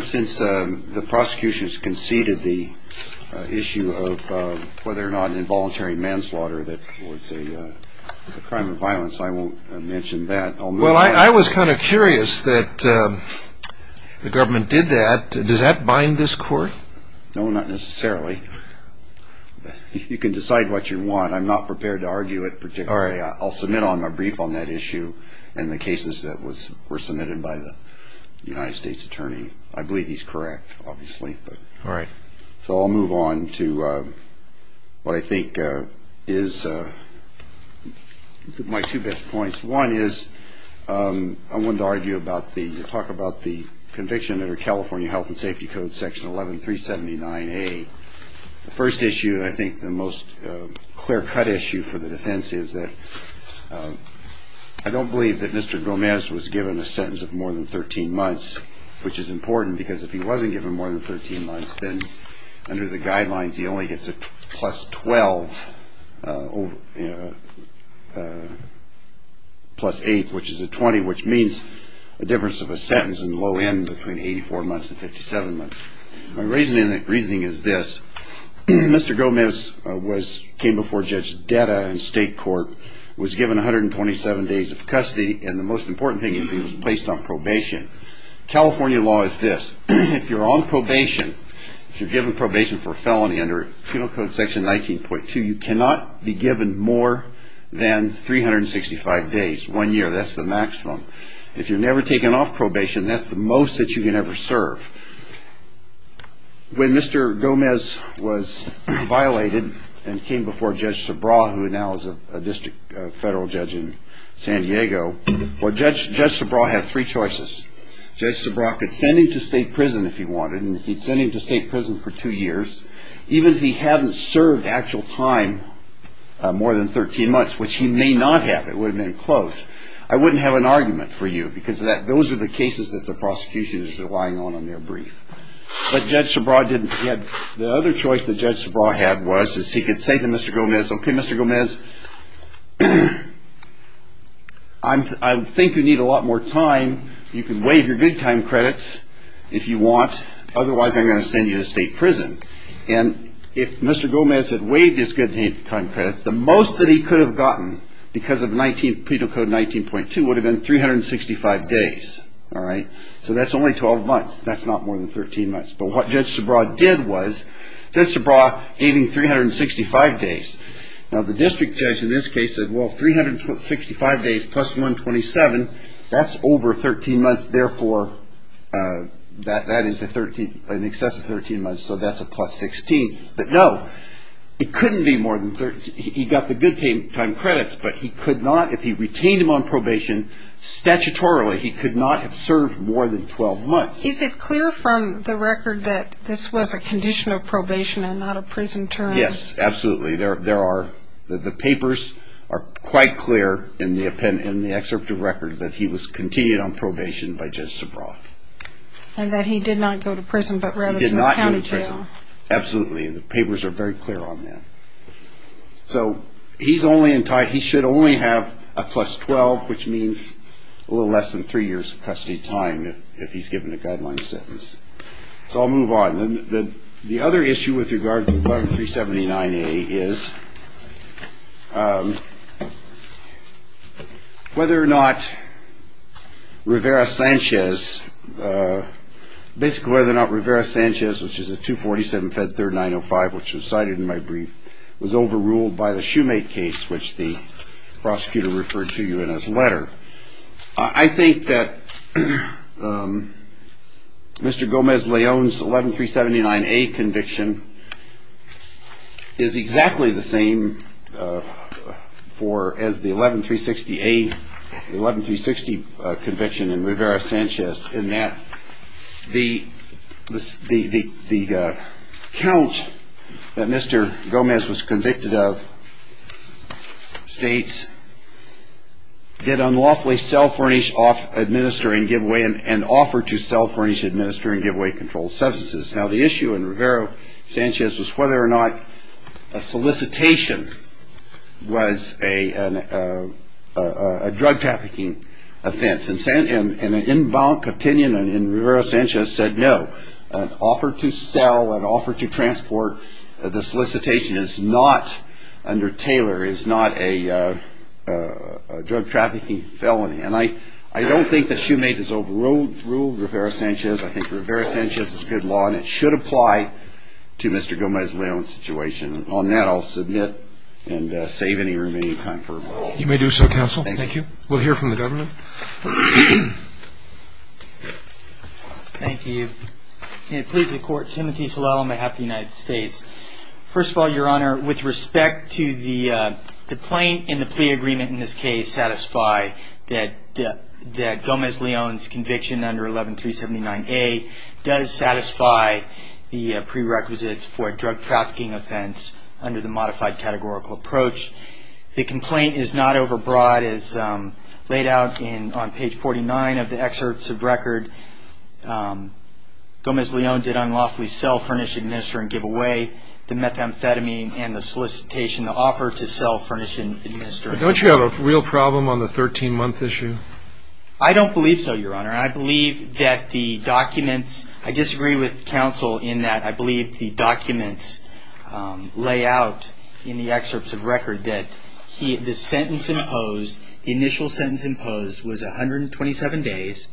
Since the prosecution has conceded the issue of whether or not involuntary manslaughter is a crime of violence, I won't mention that. Well, I was kind of curious that the government did that. Does that bind this court? No, not necessarily. You can decide what you want. I'm not prepared to argue it particularly. I'll submit a brief on that issue and the cases that were submitted by the United States attorney. I believe he's correct, obviously. All right. So I'll move on to what I think is my two best points. One is I wanted to talk about the conviction under California Health and Safety Code, Section 11379A. The first issue and I think the most clear-cut issue for the defense is that I don't believe that Mr. Gomez was given a sentence of more than 13 months, which is important because if he wasn't given more than 13 months, then under the guidelines, he only gets a plus 12 plus 8, which is a 20, which means a difference of a sentence in the low end between 84 months and 57 months. My reasoning is this. Mr. Gomez came before Judge Detta in state court, was given 127 days of custody, and the most important thing is he was placed on probation. California law is this. If you're on probation, if you're given probation for a felony under penal code section 19.2, you cannot be given more than 365 days, one year. That's the maximum. If you're never taken off probation, that's the most that you can ever serve. When Mr. Gomez was violated and came before Judge Sabraw, who now is a district federal judge in San Diego, Judge Sabraw had three choices. Judge Sabraw could send him to state prison if he wanted, and if he'd send him to state prison for two years, even if he hadn't served actual time more than 13 months, which he may not have, it would have been close, I wouldn't have an argument for you because those are the cases that the prosecution is relying on in their brief. But Judge Sabraw didn't. The other choice that Judge Sabraw had was he could say to Mr. Gomez, okay, Mr. Gomez, I think you need a lot more time. You can waive your good time credits if you want. Otherwise, I'm going to send you to state prison. And if Mr. Gomez had waived his good time credits, the most that he could have gotten because of penal code 19.2 would have been 365 days. So that's only 12 months. That's not more than 13 months. But what Judge Sabraw did was, Judge Sabraw gave him 365 days. Now, the district judge in this case said, well, 365 days plus 127, that's over 13 months. Therefore, that is an excess of 13 months. So that's a plus 16. But no, it couldn't be more than 13. He got the good time credits, but he could not, if he retained him on probation, statutorily, he could not have served more than 12 months. Is it clear from the record that this was a condition of probation and not a prison term? Yes, absolutely. The papers are quite clear in the excerpt of record that he was continued on probation by Judge Sabraw. And that he did not go to prison but rather to the county jail. He did not go to prison. Absolutely. The papers are very clear on that. So he should only have a plus 12, which means a little less than three years of custody time if he's given a guideline sentence. So I'll move on. The other issue with regard to the §379A is whether or not Rivera-Sanchez, basically whether or not Rivera-Sanchez, which is a 247 Fed Third 905, which was cited in my brief, was overruled by the Shoemake case, which the prosecutor referred to you in his letter. I think that Mr. Gomez-Leon's §11379A conviction is exactly the same as the §11360A conviction in Rivera-Sanchez in that the count that Mr. Gomez was convicted of states, get unlawfully sell, furnish, administer and give away and offer to sell, furnish, administer and give away controlled substances. Now the issue in Rivera-Sanchez was whether or not a solicitation was a drug trafficking offense. And an in-bank opinion in Rivera-Sanchez said no. An offer to sell, an offer to transport, the solicitation is not under Taylor, is not a drug trafficking felony. And I don't think that Shoemake has overruled Rivera-Sanchez. I think Rivera-Sanchez is good law and it should apply to Mr. Gomez-Leon's situation. On that, I'll submit and save any remaining time for rebuttal. You may do so, counsel. Thank you. We'll hear from the government. Thank you. May it please the Court. Timothy Salella on behalf of the United States. First of all, Your Honor, with respect to the plaint and the plea agreement in this case satisfy that Gomez-Leon's conviction under §11379A does satisfy the prerequisites for a drug trafficking offense under the modified categorical approach. The complaint is not overbroad as laid out on page 49 of the excerpts of record. Gomez-Leon did unlawfully sell, furnish, administer and give away the methamphetamine and the solicitation, the offer to sell, furnish and administer. Don't you have a real problem on the 13-month issue? I don't believe so, Your Honor. I disagree with counsel in that I believe the documents lay out in the excerpts of record that the initial sentence imposed was 127 days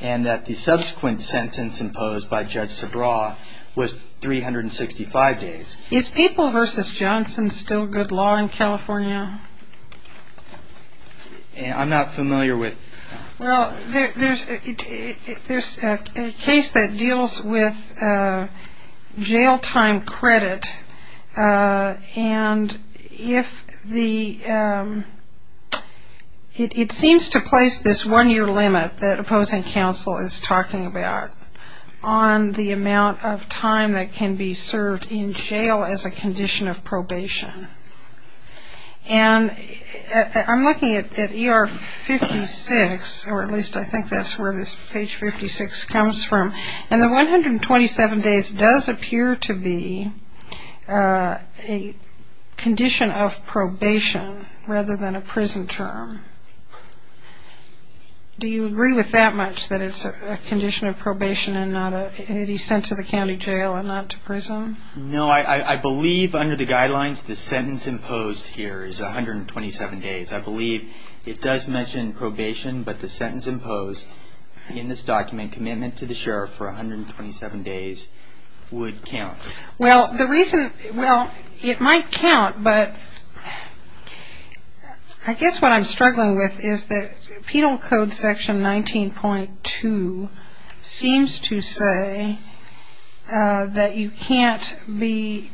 and that the subsequent sentence imposed by Judge Sabraw was 365 days. Is People v. Johnson still good law in California? I'm not familiar with... Well, there's a case that deals with jail time credit and if the... And I'm looking at ER 56, or at least I think that's where this page 56 comes from, and the 127 days does appear to be a condition of probation rather than a prison term. Do you agree with that much, that it's a condition of probation and not a... that he's sent to the county jail and not to prison? No, I believe under the guidelines the sentence imposed here is 127 days. I believe it does mention probation, but the sentence imposed in this document, commitment to the sheriff for 127 days, would count. Well, the reason... well, it might count, but I guess what I'm struggling with is that Penal Code section 19.2 seems to say that you can't be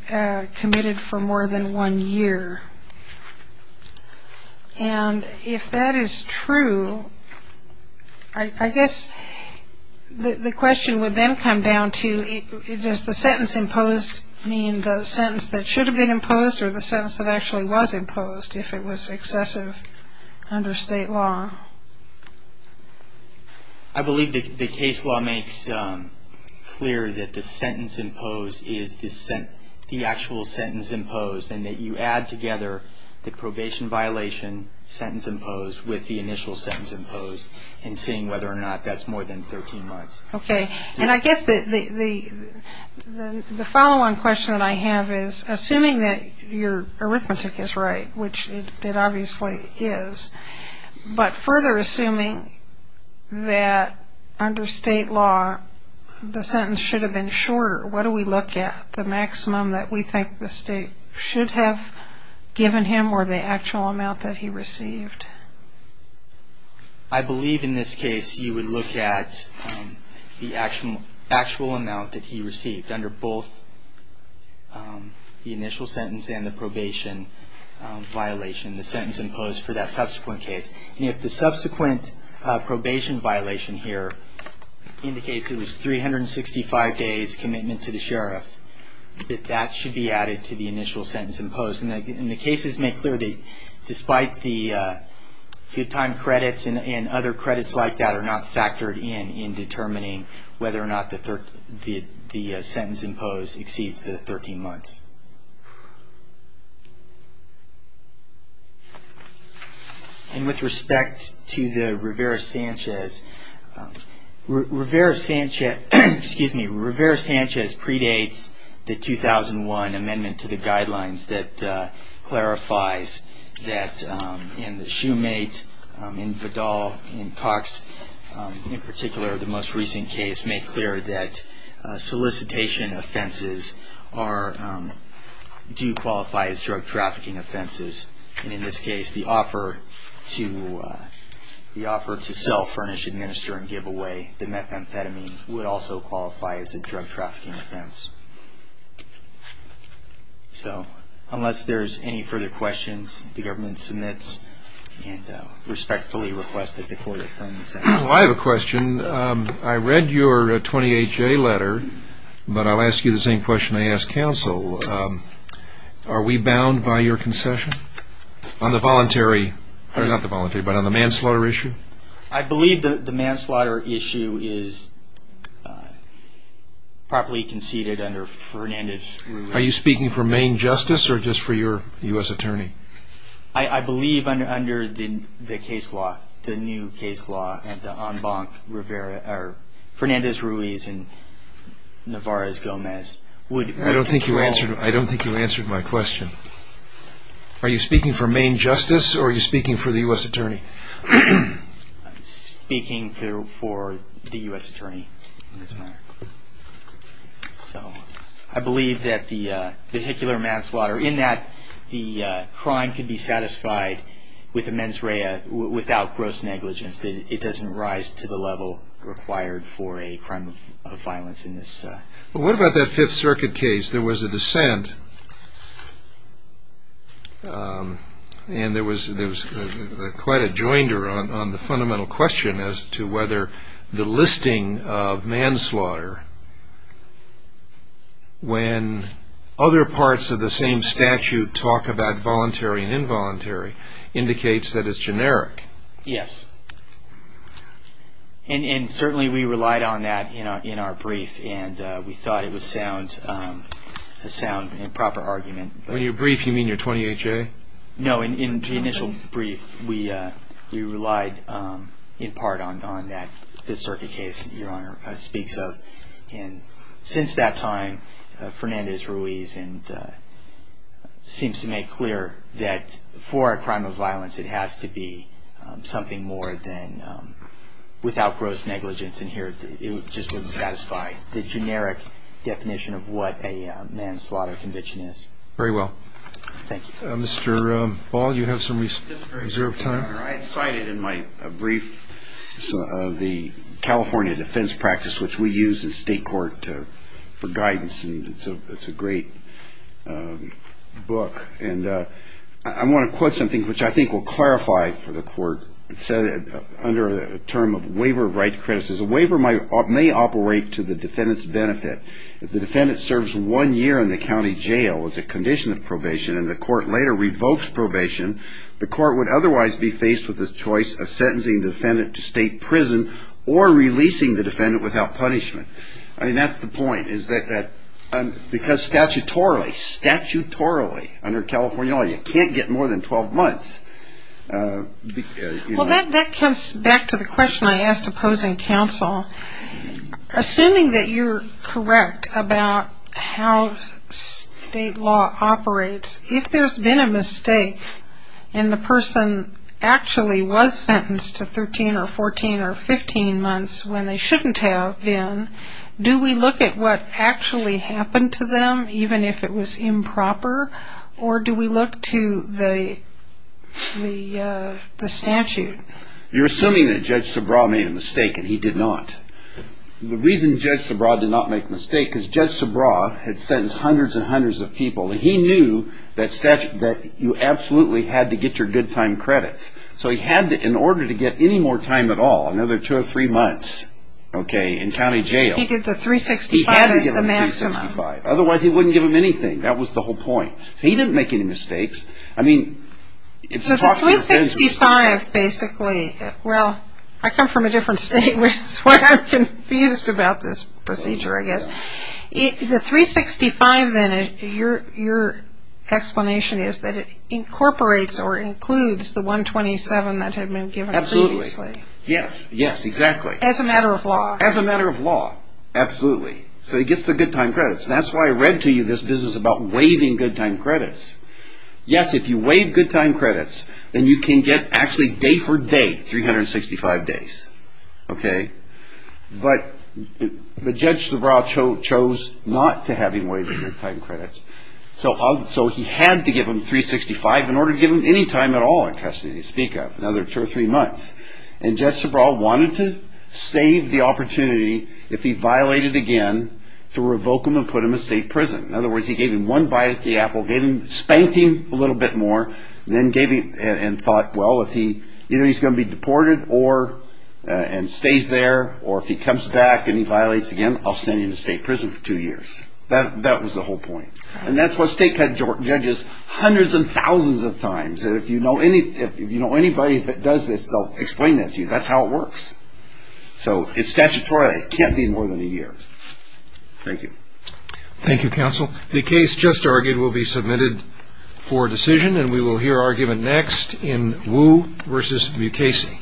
committed for more than one year. And if that is true, I guess the question would then come down to does the sentence imposed mean the sentence that should have been imposed or the sentence that actually was imposed if it was excessive under state law? I believe the case law makes clear that the sentence imposed is the actual sentence imposed and that you add together the probation violation sentence imposed with the initial sentence imposed and seeing whether or not that's more than 13 months. Okay, and I guess the following question that I have is, assuming that your arithmetic is right, which it obviously is, but further assuming that under state law the sentence should have been shorter, what do we look at? The maximum that we think the state should have given him or the actual amount that he received? I believe in this case you would look at the actual amount that he received under both the initial sentence and the probation violation, the sentence imposed for that subsequent case. And if the subsequent probation violation here indicates it was 365 days commitment to the sheriff, that that should be added to the initial sentence imposed. And the cases make clear that despite the good time credits and other credits like that are not factored in in determining whether or not the sentence imposed exceeds the 13 months. And with respect to the Rivera-Sanchez, excuse me, Rivera-Sanchez predates the 2001 amendment to the guidelines that clarifies that in the Shoemate, in Vidal, in Cox, in particular the most recent case, cases make clear that solicitation offenses do qualify as drug trafficking offenses. And in this case, the offer to self-furnish, administer, and give away the methamphetamine would also qualify as a drug trafficking offense. So unless there's any further questions, the government submits and respectfully requests that the court affirm the sentence. Well, I have a question. I read your 28-J letter, but I'll ask you the same question I ask counsel. Are we bound by your concession on the voluntary, not the voluntary, but on the manslaughter issue? I believe that the manslaughter issue is properly conceded under Fernandez-Ruiz. Are you speaking for Maine justice or just for your U.S. attorney? I believe under the case law, the new case law, that Fernandez-Ruiz and Navarez-Gomez would... I don't think you answered my question. Are you speaking for Maine justice or are you speaking for the U.S. attorney? I'm speaking for the U.S. attorney in this matter. So I believe that the vehicular manslaughter, in that the crime can be satisfied with a mens rea without gross negligence. It doesn't rise to the level required for a crime of violence in this... What about that Fifth Circuit case? There was a dissent and there was quite a joinder on the fundamental question as to whether the listing of manslaughter, when other parts of the same statute talk about voluntary and involuntary, indicates that it's generic. Yes. And certainly we relied on that in our brief and we thought it was a sound and proper argument. When you're brief, you mean your 28-J? No, in the initial brief, we relied in part on that Fifth Circuit case that Your Honor speaks of. Since that time, Fernandez-Ruiz seems to make clear that for a crime of violence, it has to be something more than without gross negligence. And here it just wouldn't satisfy the generic definition of what a manslaughter conviction is. Very well. Thank you. Mr. Ball, you have some reserved time? Your Honor, I had cited in my brief the California defense practice, which we use in state court for guidance and it's a great book. And I want to quote something which I think will clarify for the court. It said under the term of waiver of right to criticism, a waiver may operate to the defendant's benefit. If the defendant serves one year in the county jail as a condition of probation and the court later revokes probation, the court would otherwise be faced with the choice of sentencing the defendant to state prison or releasing the defendant without punishment. I mean, that's the point, is that because statutorily, statutorily under California law, you can't get more than 12 months. Well, that comes back to the question I asked opposing counsel. Assuming that you're correct about how state law operates, if there's been a mistake and the person actually was sentenced to 13 or 14 or 15 months when they shouldn't have been, do we look at what actually happened to them, even if it was improper, or do we look to the statute? You're assuming that Judge Sobraw made a mistake, and he did not. The reason Judge Sobraw did not make a mistake is Judge Sobraw had sentenced hundreds and hundreds of people, and he knew that you absolutely had to get your good time credits. So he had to, in order to get any more time at all, another two or three months, okay, in county jail. He did the 365 as the maximum. He had to give them the 365. Otherwise, he wouldn't give them anything. That was the whole point. So he didn't make any mistakes. So the 365 basically, well, I come from a different state, which is why I'm confused about this procedure, I guess. The 365 then, your explanation is that it incorporates or includes the 127 that had been given previously. Absolutely. Yes, yes, exactly. As a matter of law. As a matter of law, absolutely. So he gets the good time credits. That's why I read to you this business about waiving good time credits. Yes, if you waive good time credits, then you can get actually day for day 365 days, okay? But Judge Sobraw chose not to have him waive the good time credits. So he had to give them 365 in order to give them any time at all in custody to speak of, another two or three months. And Judge Sobraw wanted to save the opportunity, if he violated again, to revoke him and put him in state prison. In other words, he gave him one bite at the apple, spanked him a little bit more, and then thought, well, either he's going to be deported and stays there, or if he comes back and he violates again, I'll send him to state prison for two years. That was the whole point. And that's what state judges hundreds and thousands of times. If you know anybody that does this, they'll explain that to you. That's how it works. So it's statutory. It can't be more than a year. Thank you. Thank you, counsel. The case just argued will be submitted for decision, and we will hear argument next in Wu v. Mukasey.